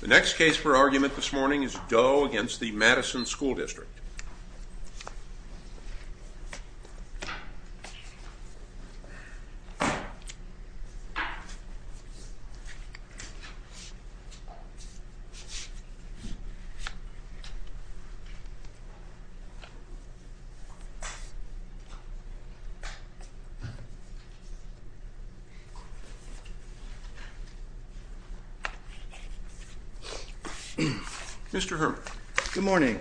The next case for argument this morning is Doe v. Madison School District. Mr. Herman. Good morning.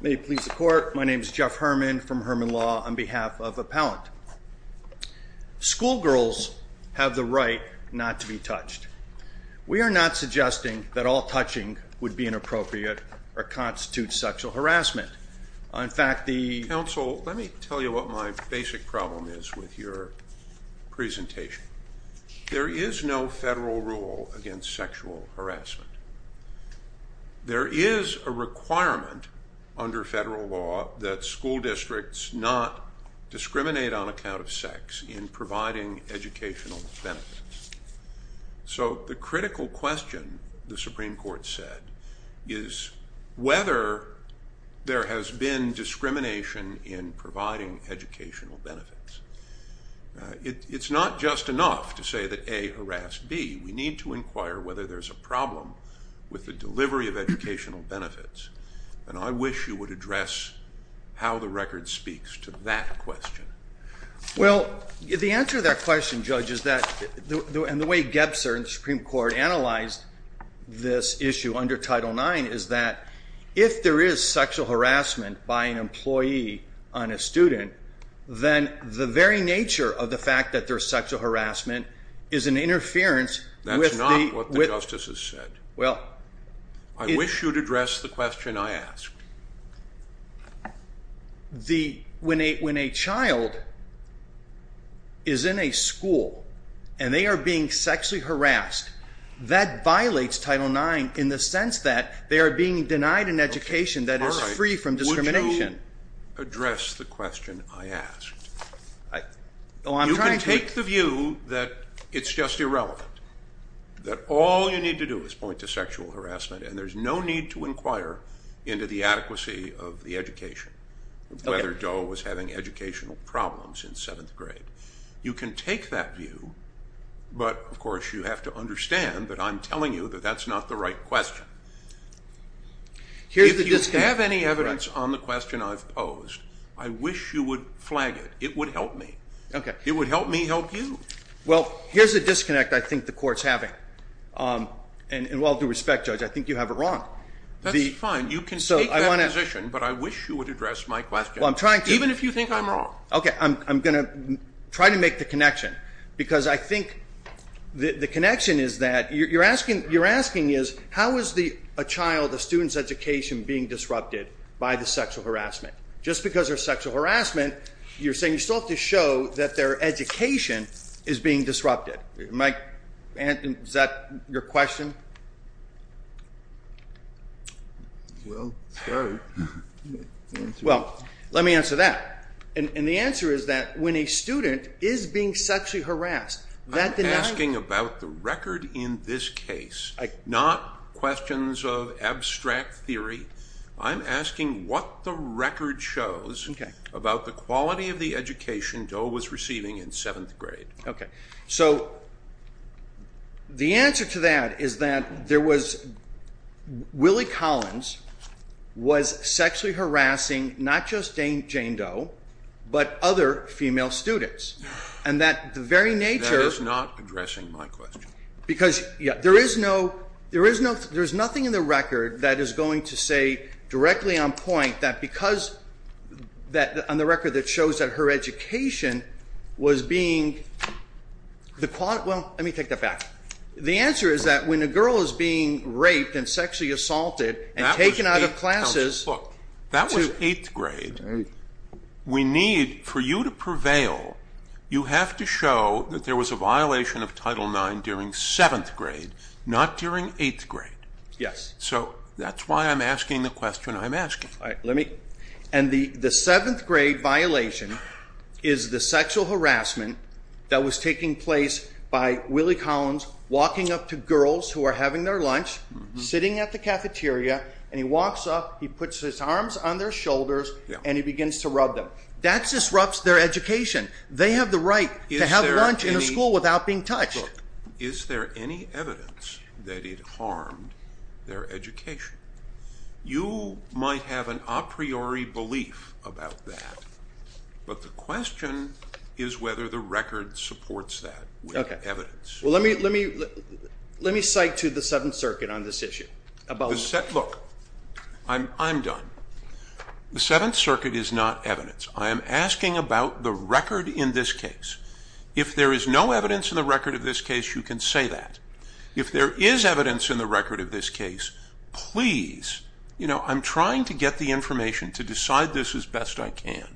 May it please the Court, my name is Jeff Herman from Herman Law on behalf of Appellant. Schoolgirls have the right not to be touched. We are not suggesting that all touching would be inappropriate or constitute sexual harassment. Counsel, let me tell you what my basic problem is with your presentation. There is no federal rule against sexual harassment. There is a requirement under federal law that school districts not discriminate on account of sex in providing educational benefits. So the critical question, the Supreme Court said, is whether there has been discrimination in providing educational benefits. It's not just enough to say that A, harass B. We need to inquire whether there's a problem with the delivery of educational benefits. And I wish you would address how the record speaks to that question. Well, the answer to that question, Judge, is that, and the way Gebser and the Supreme Court analyzed this issue under Title IX, is that if there is sexual harassment by an employee on a student, then the very nature of the fact that there's sexual harassment is an interference with the... That's not what the Justice has said. Well... I wish you would address the question I asked. When a child is in a school and they are being sexually harassed, that violates Title IX in the sense that they are being denied an education that is free from discrimination. Would you address the question I asked? You can take the view that it's just irrelevant, that all you need to do is point to sexual harassment and there's no need to inquire into the adequacy of the education, whether Doe was having educational problems in seventh grade. You can take that view, but, of course, you have to understand that I'm telling you that that's not the right question. If you have any evidence on the question I've posed, I wish you would flag it. It would help me. It would help me help you. Well, here's a disconnect I think the Court's having, and with all due respect, Judge, I think you have it wrong. That's fine. You can take that position, but I wish you would address my question. Well, I'm trying to. Even if you think I'm wrong. Okay. I'm going to try to make the connection because I think the connection is that you're asking is how is a child, a student's education, being disrupted by the sexual harassment? Just because there's sexual harassment, you're saying you still have to show that their education is being disrupted. Is that your question? Well, sorry. Well, let me answer that. And the answer is that when a student is being sexually harassed, that denies... I'm asking about the record in this case, not questions of abstract theory. I'm asking what the record shows about the quality of the education Doe was receiving in seventh grade. Okay. So the answer to that is that there was Willie Collins was sexually harassing not just Jane Doe, but other female students. And that the very nature... That is not addressing my question. Because there is nothing in the record that is going to say directly on point that because on the record that shows that her education was being... Well, let me take that back. The answer is that when a girl is being raped and sexually assaulted and taken out of classes... Not during eighth grade. Yes. So that's why I'm asking the question I'm asking. And the seventh grade violation is the sexual harassment that was taking place by Willie Collins walking up to girls who are having their lunch, sitting at the cafeteria. And he walks up, he puts his arms on their shoulders, and he begins to rub them. That disrupts their education. They have the right to have lunch in the school without being touched. Look, is there any evidence that it harmed their education? You might have an a priori belief about that. But the question is whether the record supports that evidence. Well, let me cite to the Seventh Circuit on this issue. Look, I'm done. The Seventh Circuit is not evidence. I am asking about the record in this case. If there is no evidence in the record of this case, you can say that. If there is evidence in the record of this case, please, you know, I'm trying to get the information to decide this as best I can.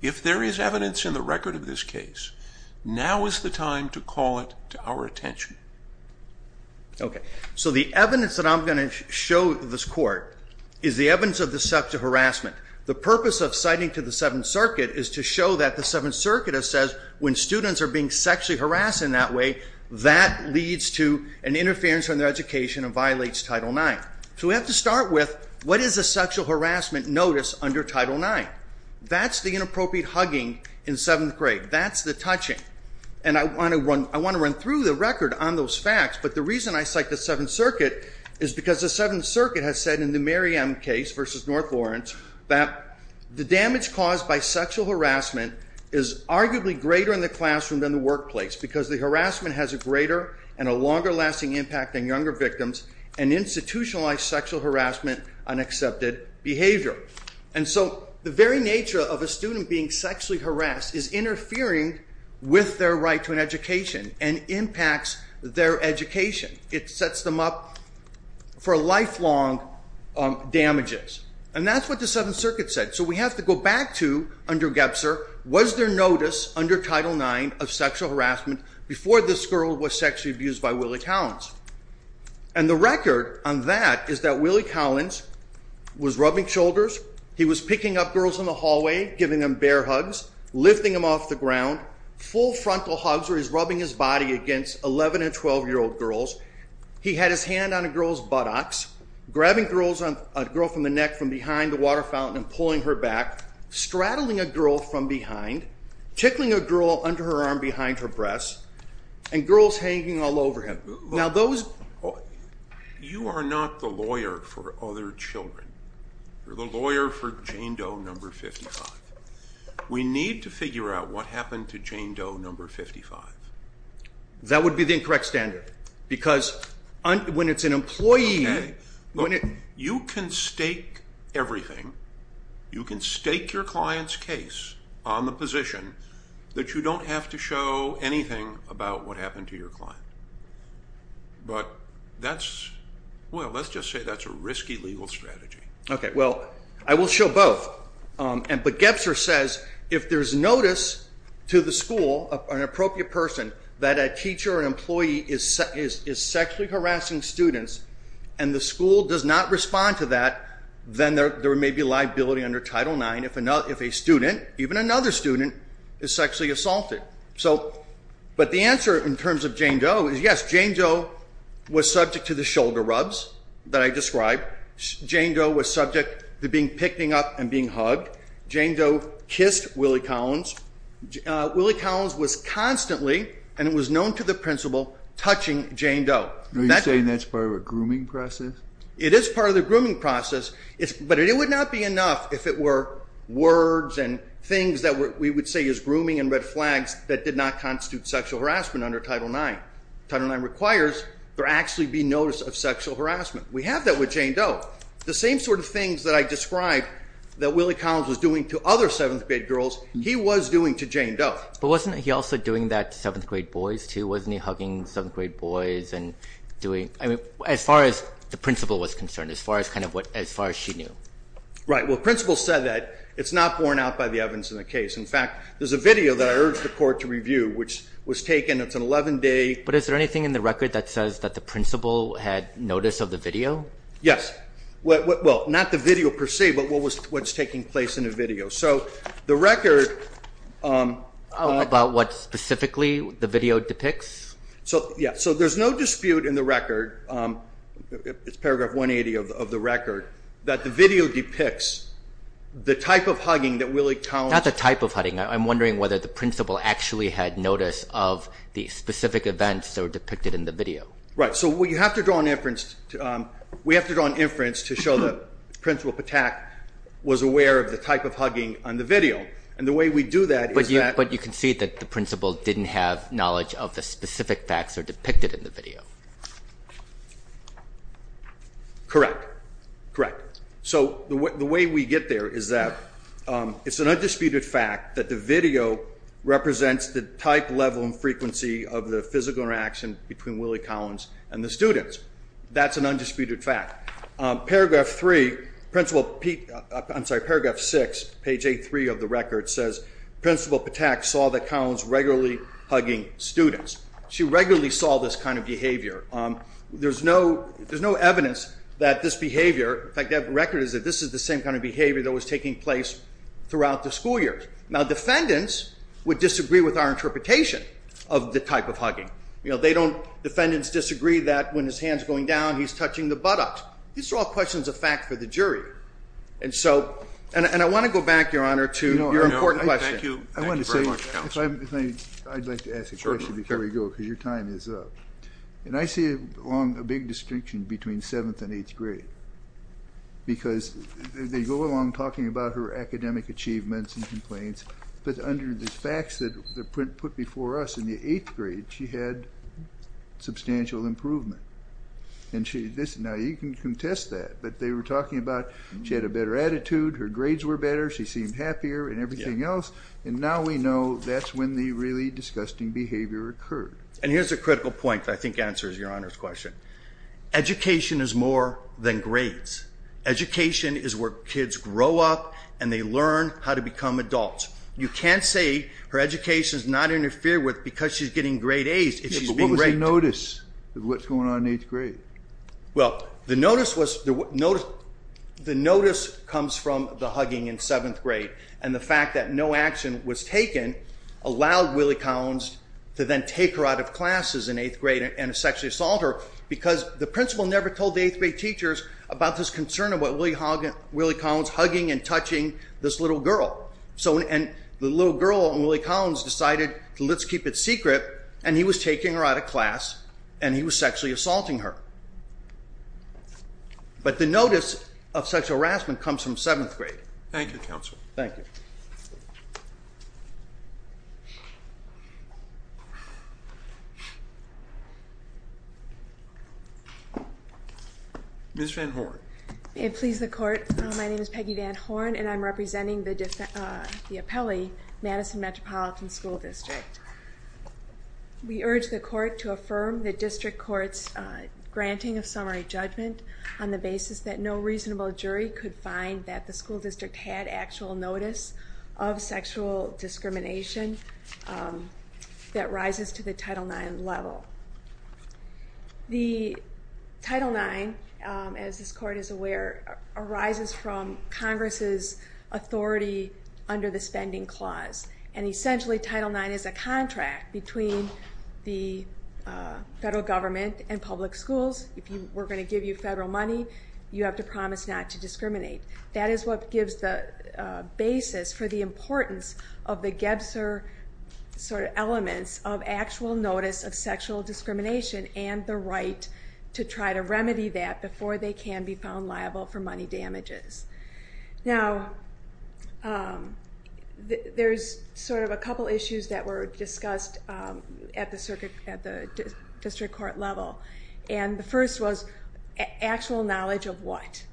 If there is evidence in the record of this case, now is the time to call it to our attention. Okay. So the evidence that I'm going to show this court is the evidence of the sexual harassment. The purpose of citing to the Seventh Circuit is to show that the Seventh Circuit has said when students are being sexually harassed in that way, that leads to an interference in their education and violates Title IX. So we have to start with what is a sexual harassment notice under Title IX? That's the inappropriate hugging in seventh grade. That's the touching. And I want to run through the record on those facts. But the reason I cite the Seventh Circuit is because the Seventh Circuit has said in the Mary M. case versus North Lawrence, that the damage caused by sexual harassment is arguably greater in the classroom than the workplace, because the harassment has a greater and a longer-lasting impact on younger victims and institutionalized sexual harassment on accepted behavior. And so the very nature of a student being sexually harassed is interfering with their right to an education and impacts their education. It sets them up for lifelong damages. And that's what the Seventh Circuit said. So we have to go back to, under Gebser, was there notice under Title IX of sexual harassment before this girl was sexually abused by Willie Collins? And the record on that is that Willie Collins was rubbing shoulders, he was picking up girls in the hallway, giving them bare hugs, lifting them off the ground, full frontal hugs where he's rubbing his body against 11- and 12-year-old girls. He had his hand on a girl's buttocks, grabbing a girl from the neck from behind the water fountain and pulling her back, straddling a girl from behind, tickling a girl under her arm behind her breasts, and girls hanging all over him. You are not the lawyer for other children. You're the lawyer for Jane Doe No. 55. We need to figure out what happened to Jane Doe No. 55. That would be the incorrect standard because when it's an employee... You can stake everything. You can stake your client's case on the position that you don't have to show anything about what happened to your client. But that's, well, let's just say that's a risky legal strategy. Okay, well, I will show both. But Gebser says if there's notice to the school, an appropriate person, that a teacher or an employee is sexually harassing students and the school does not respond to that, then there may be liability under Title IX if a student, even another student, is sexually assaulted. But the answer in terms of Jane Doe is yes, Jane Doe was subject to the shoulder rubs that I described. Jane Doe was subject to being picked up and being hugged. Jane Doe kissed Willie Collins. Willie Collins was constantly, and it was known to the principal, touching Jane Doe. Are you saying that's part of a grooming process? It is part of the grooming process, but it would not be enough if it were words and things that we would say is grooming and red flags that did not constitute sexual harassment under Title IX. Title IX requires there actually be notice of sexual harassment. We have that with Jane Doe. The same sort of things that I described that Willie Collins was doing to other seventh grade girls, he was doing to Jane Doe. But wasn't he also doing that to seventh grade boys, too? Wasn't he hugging seventh grade boys and doing, I mean, as far as the principal was concerned, as far as kind of what, as far as she knew? Right. Well, the principal said that. It's not borne out by the evidence in the case. In fact, there's a video that I urged the court to review, which was taken. It's an 11-day. But is there anything in the record that says that the principal had notice of the video? Yes. Well, not the video per se, but what's taking place in the video. So the record- About what specifically the video depicts? Yeah. So there's no dispute in the record, it's paragraph 180 of the record, that the video depicts the type of hugging that Willie Collins- Not the type of hugging. I'm wondering whether the principal actually had notice of the specific events that were depicted in the video. Right. So we have to draw an inference to show that Principal Patak was aware of the type of hugging on the video. And the way we do that is that- But you can see that the principal didn't have knowledge of the specific facts that are depicted in the video. Correct. Correct. So the way we get there is that it's an undisputed fact that the video represents the type, level, and frequency of the physical interaction between Willie Collins and the students. That's an undisputed fact. Paragraph 3- I'm sorry, paragraph 6, page 83 of the record says, Principal Patak saw the Collins regularly hugging students. She regularly saw this kind of behavior. There's no evidence that this behavior- In fact, that record is that this is the same kind of behavior that was taking place throughout the school year. Now, defendants would disagree with our interpretation of the type of hugging. They don't- defendants disagree that when his hand's going down, he's touching the buttocks. These are all questions of fact for the jury. And so- and I want to go back, Your Honor, to your important question. Thank you. Thank you very much, Counsel. I'd like to ask a question before we go because your time is up. And I see along a big distinction between 7th and 8th grade because they go along talking about her academic achievements and complaints, but under the facts that the print put before us in the 8th grade, she had substantial improvement. And she- now, you can contest that, but they were talking about she had a better attitude, her grades were better, she seemed happier and everything else, and now we know that's when the really disgusting behavior occurred. And here's a critical point that I think answers Your Honor's question. Education is more than grades. Education is where kids grow up and they learn how to become adults. You can't say her education is not interfered with because she's getting grade A's if she's being raped. Yeah, but what was the notice of what's going on in 8th grade? Well, the notice was- the notice comes from the hugging in 7th grade. And the fact that no action was taken allowed Willie Collins to then take her out of classes in 8th grade and sexually assault her because the principal never told the 8th grade teachers about this concern about Willie Collins hugging and touching this little girl. So- and the little girl and Willie Collins decided to let's keep it secret and he was taking her out of class and he was sexually assaulting her. But the notice of sexual harassment comes from 7th grade. Thank you, counsel. Thank you. Ms. Van Horn. May it please the court, my name is Peggy Van Horn and I'm representing the appellee, Madison Metropolitan School District. We urge the court to affirm the district court's granting of summary judgment on the basis that no reasonable jury could find that the school district had actual notice of sexual discrimination that rises to the Title IX level. The Title IX, as this court is aware, arises from Congress' authority under the spending clause. And essentially Title IX is a contract between the federal government and public schools. If we're going to give you federal money, you have to promise not to discriminate. That is what gives the basis for the importance of the Gebser sort of elements of actual notice of sexual discrimination and the right to try to remedy that before they can be found liable for money damages. Now, there's sort of a couple issues that were discussed at the district court level. And the first was actual knowledge of what.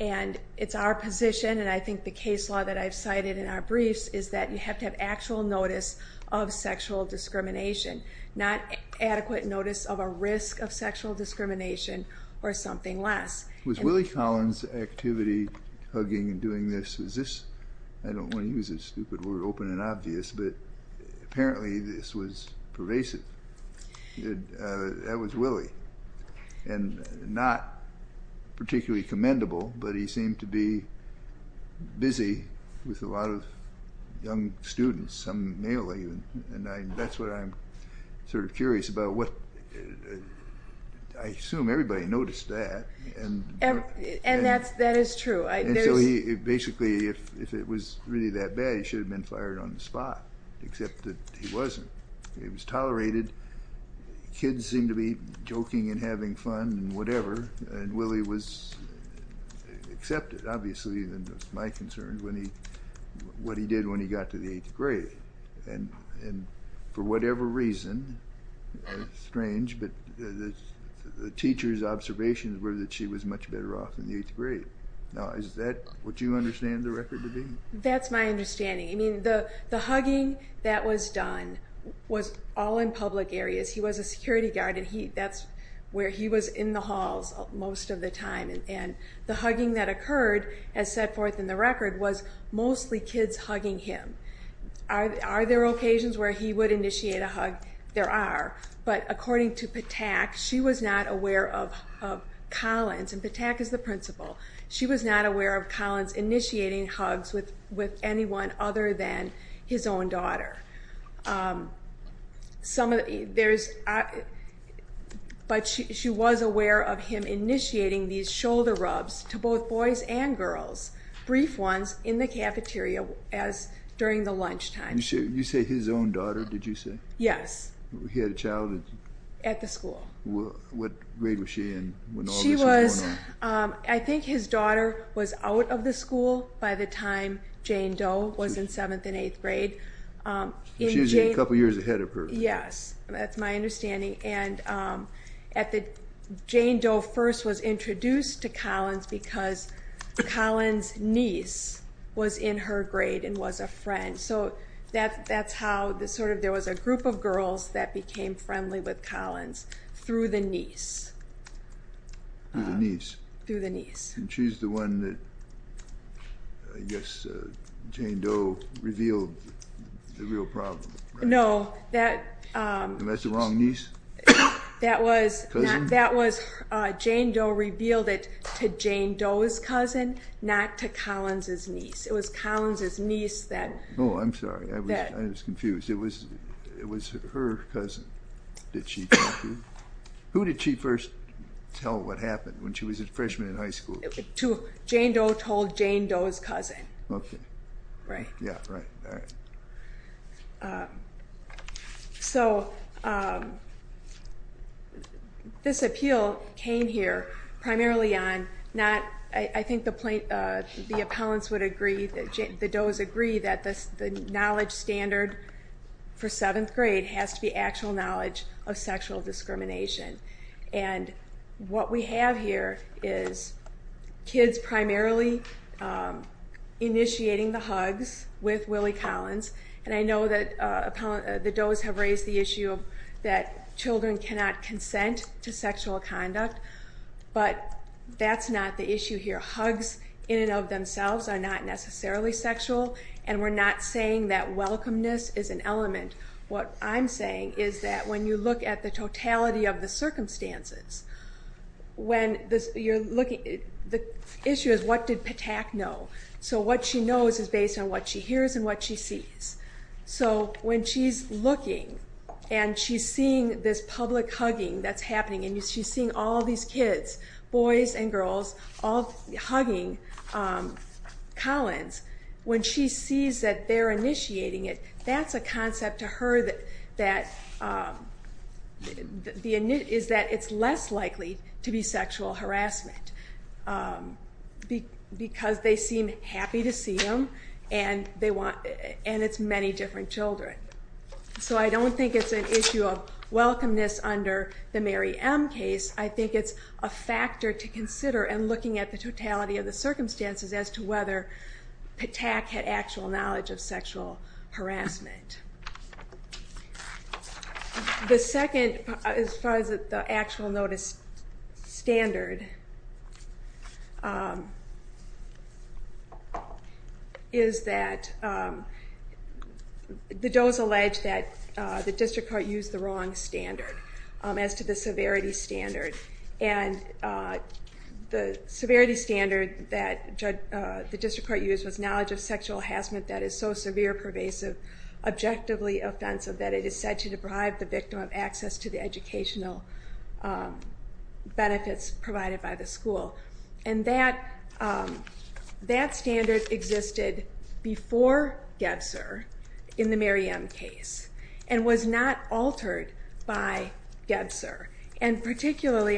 And it's our position, and I think the case law that I've cited in our briefs, is that you have to have actual notice of sexual discrimination, not adequate notice of a risk of sexual discrimination or something less. Was Willie Collins' activity, hugging and doing this, is this, I don't want to use a stupid word, open and obvious, but apparently this was pervasive. That was Willie. And not particularly commendable, but he seemed to be busy with a lot of young students, some male even, and that's what I'm sort of curious about. I assume everybody noticed that. And that is true. And so he basically, if it was really that bad, he should have been fired on the spot, except that he wasn't. He was tolerated. Kids seemed to be joking and having fun and whatever. And Willie was accepted, obviously, and that's my concern, what he did when he got to the eighth grade. And for whatever reason, strange, but the teacher's observations were that she was much better off in the eighth grade. Now, is that what you understand the record to be? That's my understanding. I mean, the hugging that was done was all in public areas. He was a security guard, and that's where he was in the halls most of the time. And the hugging that occurred, as set forth in the record, was mostly kids hugging him. Are there occasions where he would initiate a hug? There are. But according to Patak, she was not aware of Collins. And Patak is the principal. She was not aware of Collins initiating hugs with anyone other than his own daughter. But she was aware of him initiating these shoulder rubs to both boys and girls, brief ones, in the cafeteria during the lunchtime. You say his own daughter, did you say? Yes. He had a child? At the school. What grade was she in when all this was going on? I think his daughter was out of the school by the time Jane Doe was in seventh and eighth grade. She was a couple years ahead of her. Yes, that's my understanding. And Jane Doe first was introduced to Collins because Collins' niece was in her grade and was a friend. So that's how there was a group of girls that became friendly with Collins through the niece. Through the niece. Through the niece. And she's the one that, I guess, Jane Doe revealed the real problem, right? No. That's the wrong niece? That was Jane Doe revealed it to Jane Doe's cousin, not to Collins' niece. It was Collins' niece that. Oh, I'm sorry. I was confused. It was her cousin that she talked to. Who did she first tell what happened when she was a freshman in high school? Jane Doe told Jane Doe's cousin. Okay. Right. Yeah, right. All right. So this appeal came here primarily on not, I think the appellants would agree, the Does agree that the knowledge standard for seventh grade has to be actual knowledge of sexual discrimination. And what we have here is kids primarily initiating the hugs with Willie Collins. And I know that the Does have raised the issue that children cannot consent to sexual conduct. But that's not the issue here. The hugs in and of themselves are not necessarily sexual. And we're not saying that welcomeness is an element. What I'm saying is that when you look at the totality of the circumstances, the issue is what did Patak know. So what she knows is based on what she hears and what she sees. So when she's looking and she's seeing this public hugging that's happening and she's seeing all these kids, boys and girls, hugging Collins, when she sees that they're initiating it, that's a concept to her that it's less likely to be sexual harassment because they seem happy to see them and it's many different children. So I don't think it's an issue of welcomeness under the Mary M. case. I think it's a factor to consider in looking at the totality of the circumstances as to whether Patak had actual knowledge of sexual harassment. The second, as far as the actual notice standard, is that the does allege that the district court used the wrong standard as to the severity standard. And the severity standard that the district court used was knowledge of sexual harassment that is so severe, pervasive, objectively offensive, that it is said to deprive the victim of access to the educational benefits provided by the school. And that standard existed before Gebser in the Mary M. case and was not altered by Gebser. And particularly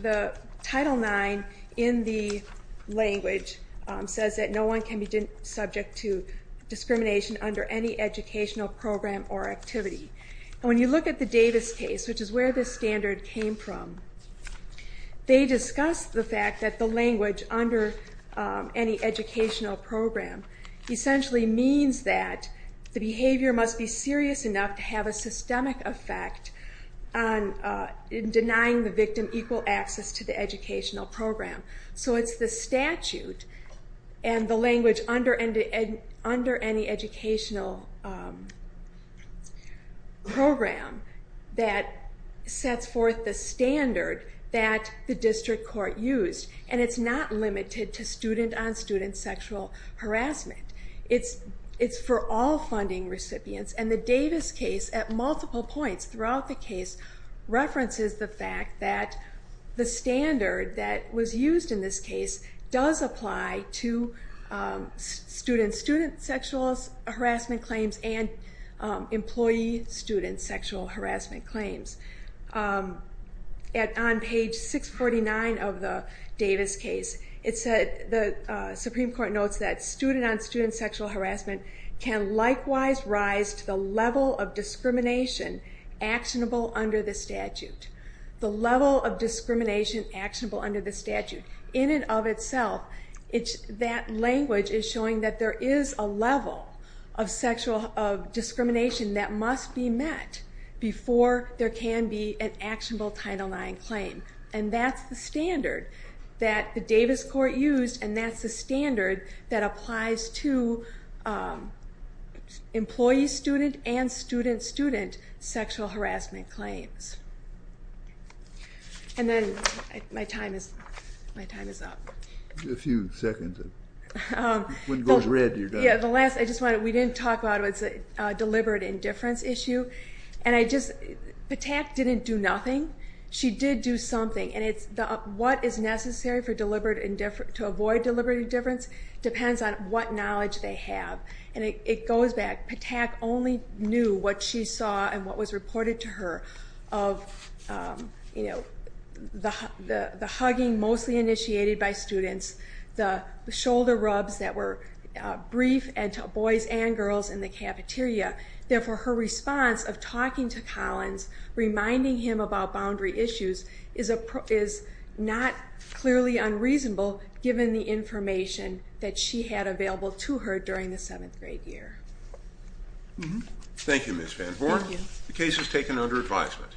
the Title IX in the language says that no one can be subject to discrimination under any educational program or activity. When you look at the Davis case, which is where this standard came from, they discuss the fact that the language under any educational program essentially means that the behavior must be serious enough to have a systemic effect in denying the victim equal access to the educational program. So it's the statute and the language under any educational program that sets forth the standard that the district court used. And it's not limited to student-on-student sexual harassment. It's for all funding recipients. And the Davis case, at multiple points throughout the case, references the fact that the standard that was used in this case does apply to student-on-student sexual harassment claims and employee-on-student sexual harassment claims. On page 649 of the Davis case, the Supreme Court notes that the level of discrimination actionable under the statute. The level of discrimination actionable under the statute. In and of itself, that language is showing that there is a level of sexual discrimination that must be met before there can be an actionable Title IX claim. And that's the standard that the Davis court used, and that's the standard that applies to employee-student and student-student sexual harassment claims. And then my time is up. A few seconds. When it goes red, you're done. We didn't talk about it. It's a deliberate indifference issue. Patak didn't do nothing. She did do something. What is necessary to avoid deliberate indifference depends on what knowledge they have. And it goes back. Patak only knew what she saw and what was reported to her of the hugging mostly initiated by students, the shoulder rubs that were brief to boys and girls in the cafeteria. Therefore, her response of talking to Collins, reminding him about boundary issues, is not clearly unreasonable given the information that she had available to her during the 7th grade year. Thank you, Ms. VanVoore. The case is taken under advisement.